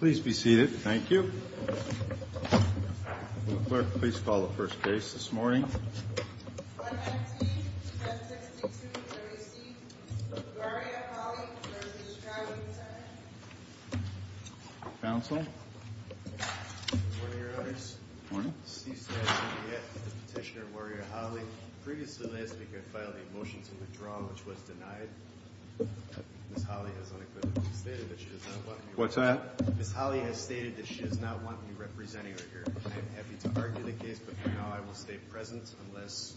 Please be seated, thank you. Clerk, please call the first case this morning. 119-762-3C, Wariya Hawley v. Stroudley, Sr. Counsel? Good morning, Your Honors. Good morning. C-625, Petitioner Wariya Hawley. Previously last week, I filed a motion to withdraw, which was denied. Ms. Hawley has unequivocally stated that she does not want me representing her here. What's that? Ms. Hawley has stated that she does not want me representing her here. I am happy to argue the case, but for now I will stay present unless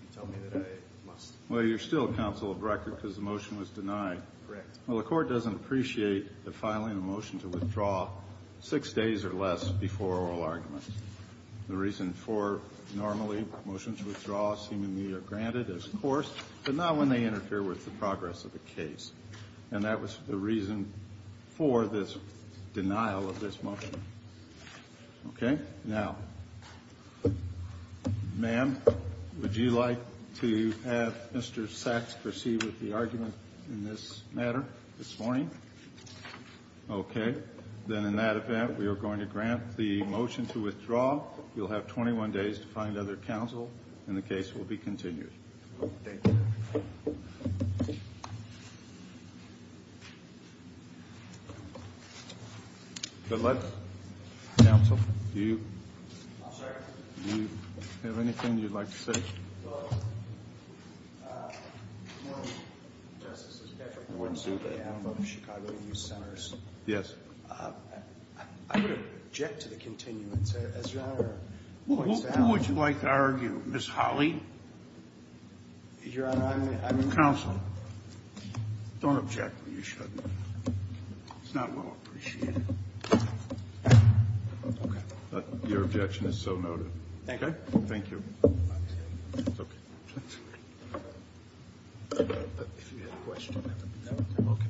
you tell me that I must. Well, you're still counsel of record because the motion was denied. Correct. Well, the Court doesn't appreciate the filing of a motion to withdraw six days or less before oral argument. The reason for normally motions withdraw seemingly are granted, of course, but not when they interfere with the progress of the case. And that was the reason for this denial of this motion. Okay? Now, ma'am, would you like to have Mr. Sachs proceed with the argument in this matter this morning? Okay. Then in that event, we are going to grant the motion to withdraw. You'll have 21 days to find other counsel, and the case will be continued. Thank you. Good luck, counsel. Do you have anything you'd like to say? Well, Your Honor, Justice, this is Patrick Woodson of Chicago Youth Centers. Yes. I would object to the continuance, as Your Honor points out. Who would you like to argue? Ms. Hawley? Your Honor, I mean. Counsel, don't object when you shouldn't. It's not well appreciated. Your objection is so noted. Thank you. Thank you. Okay. If you had a question. No? Okay.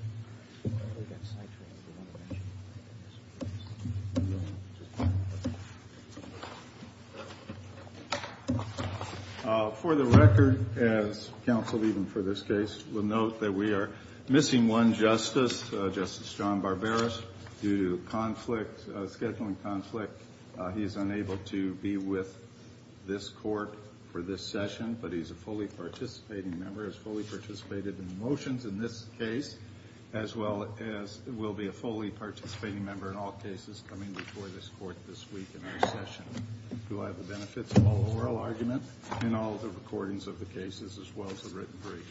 For the record, as counsel, even for this case, will note that we are missing one justice, Justice John Barberos. Due to conflict, scheduling conflict, he is unable to be with this court for this session, but he's a fully participating member, has fully participated in the motions in this case, as well as will be a fully participating member in all cases coming before this court this week in our session. Do I have the benefits of oral argument in all the recordings of the cases as well as the written briefs?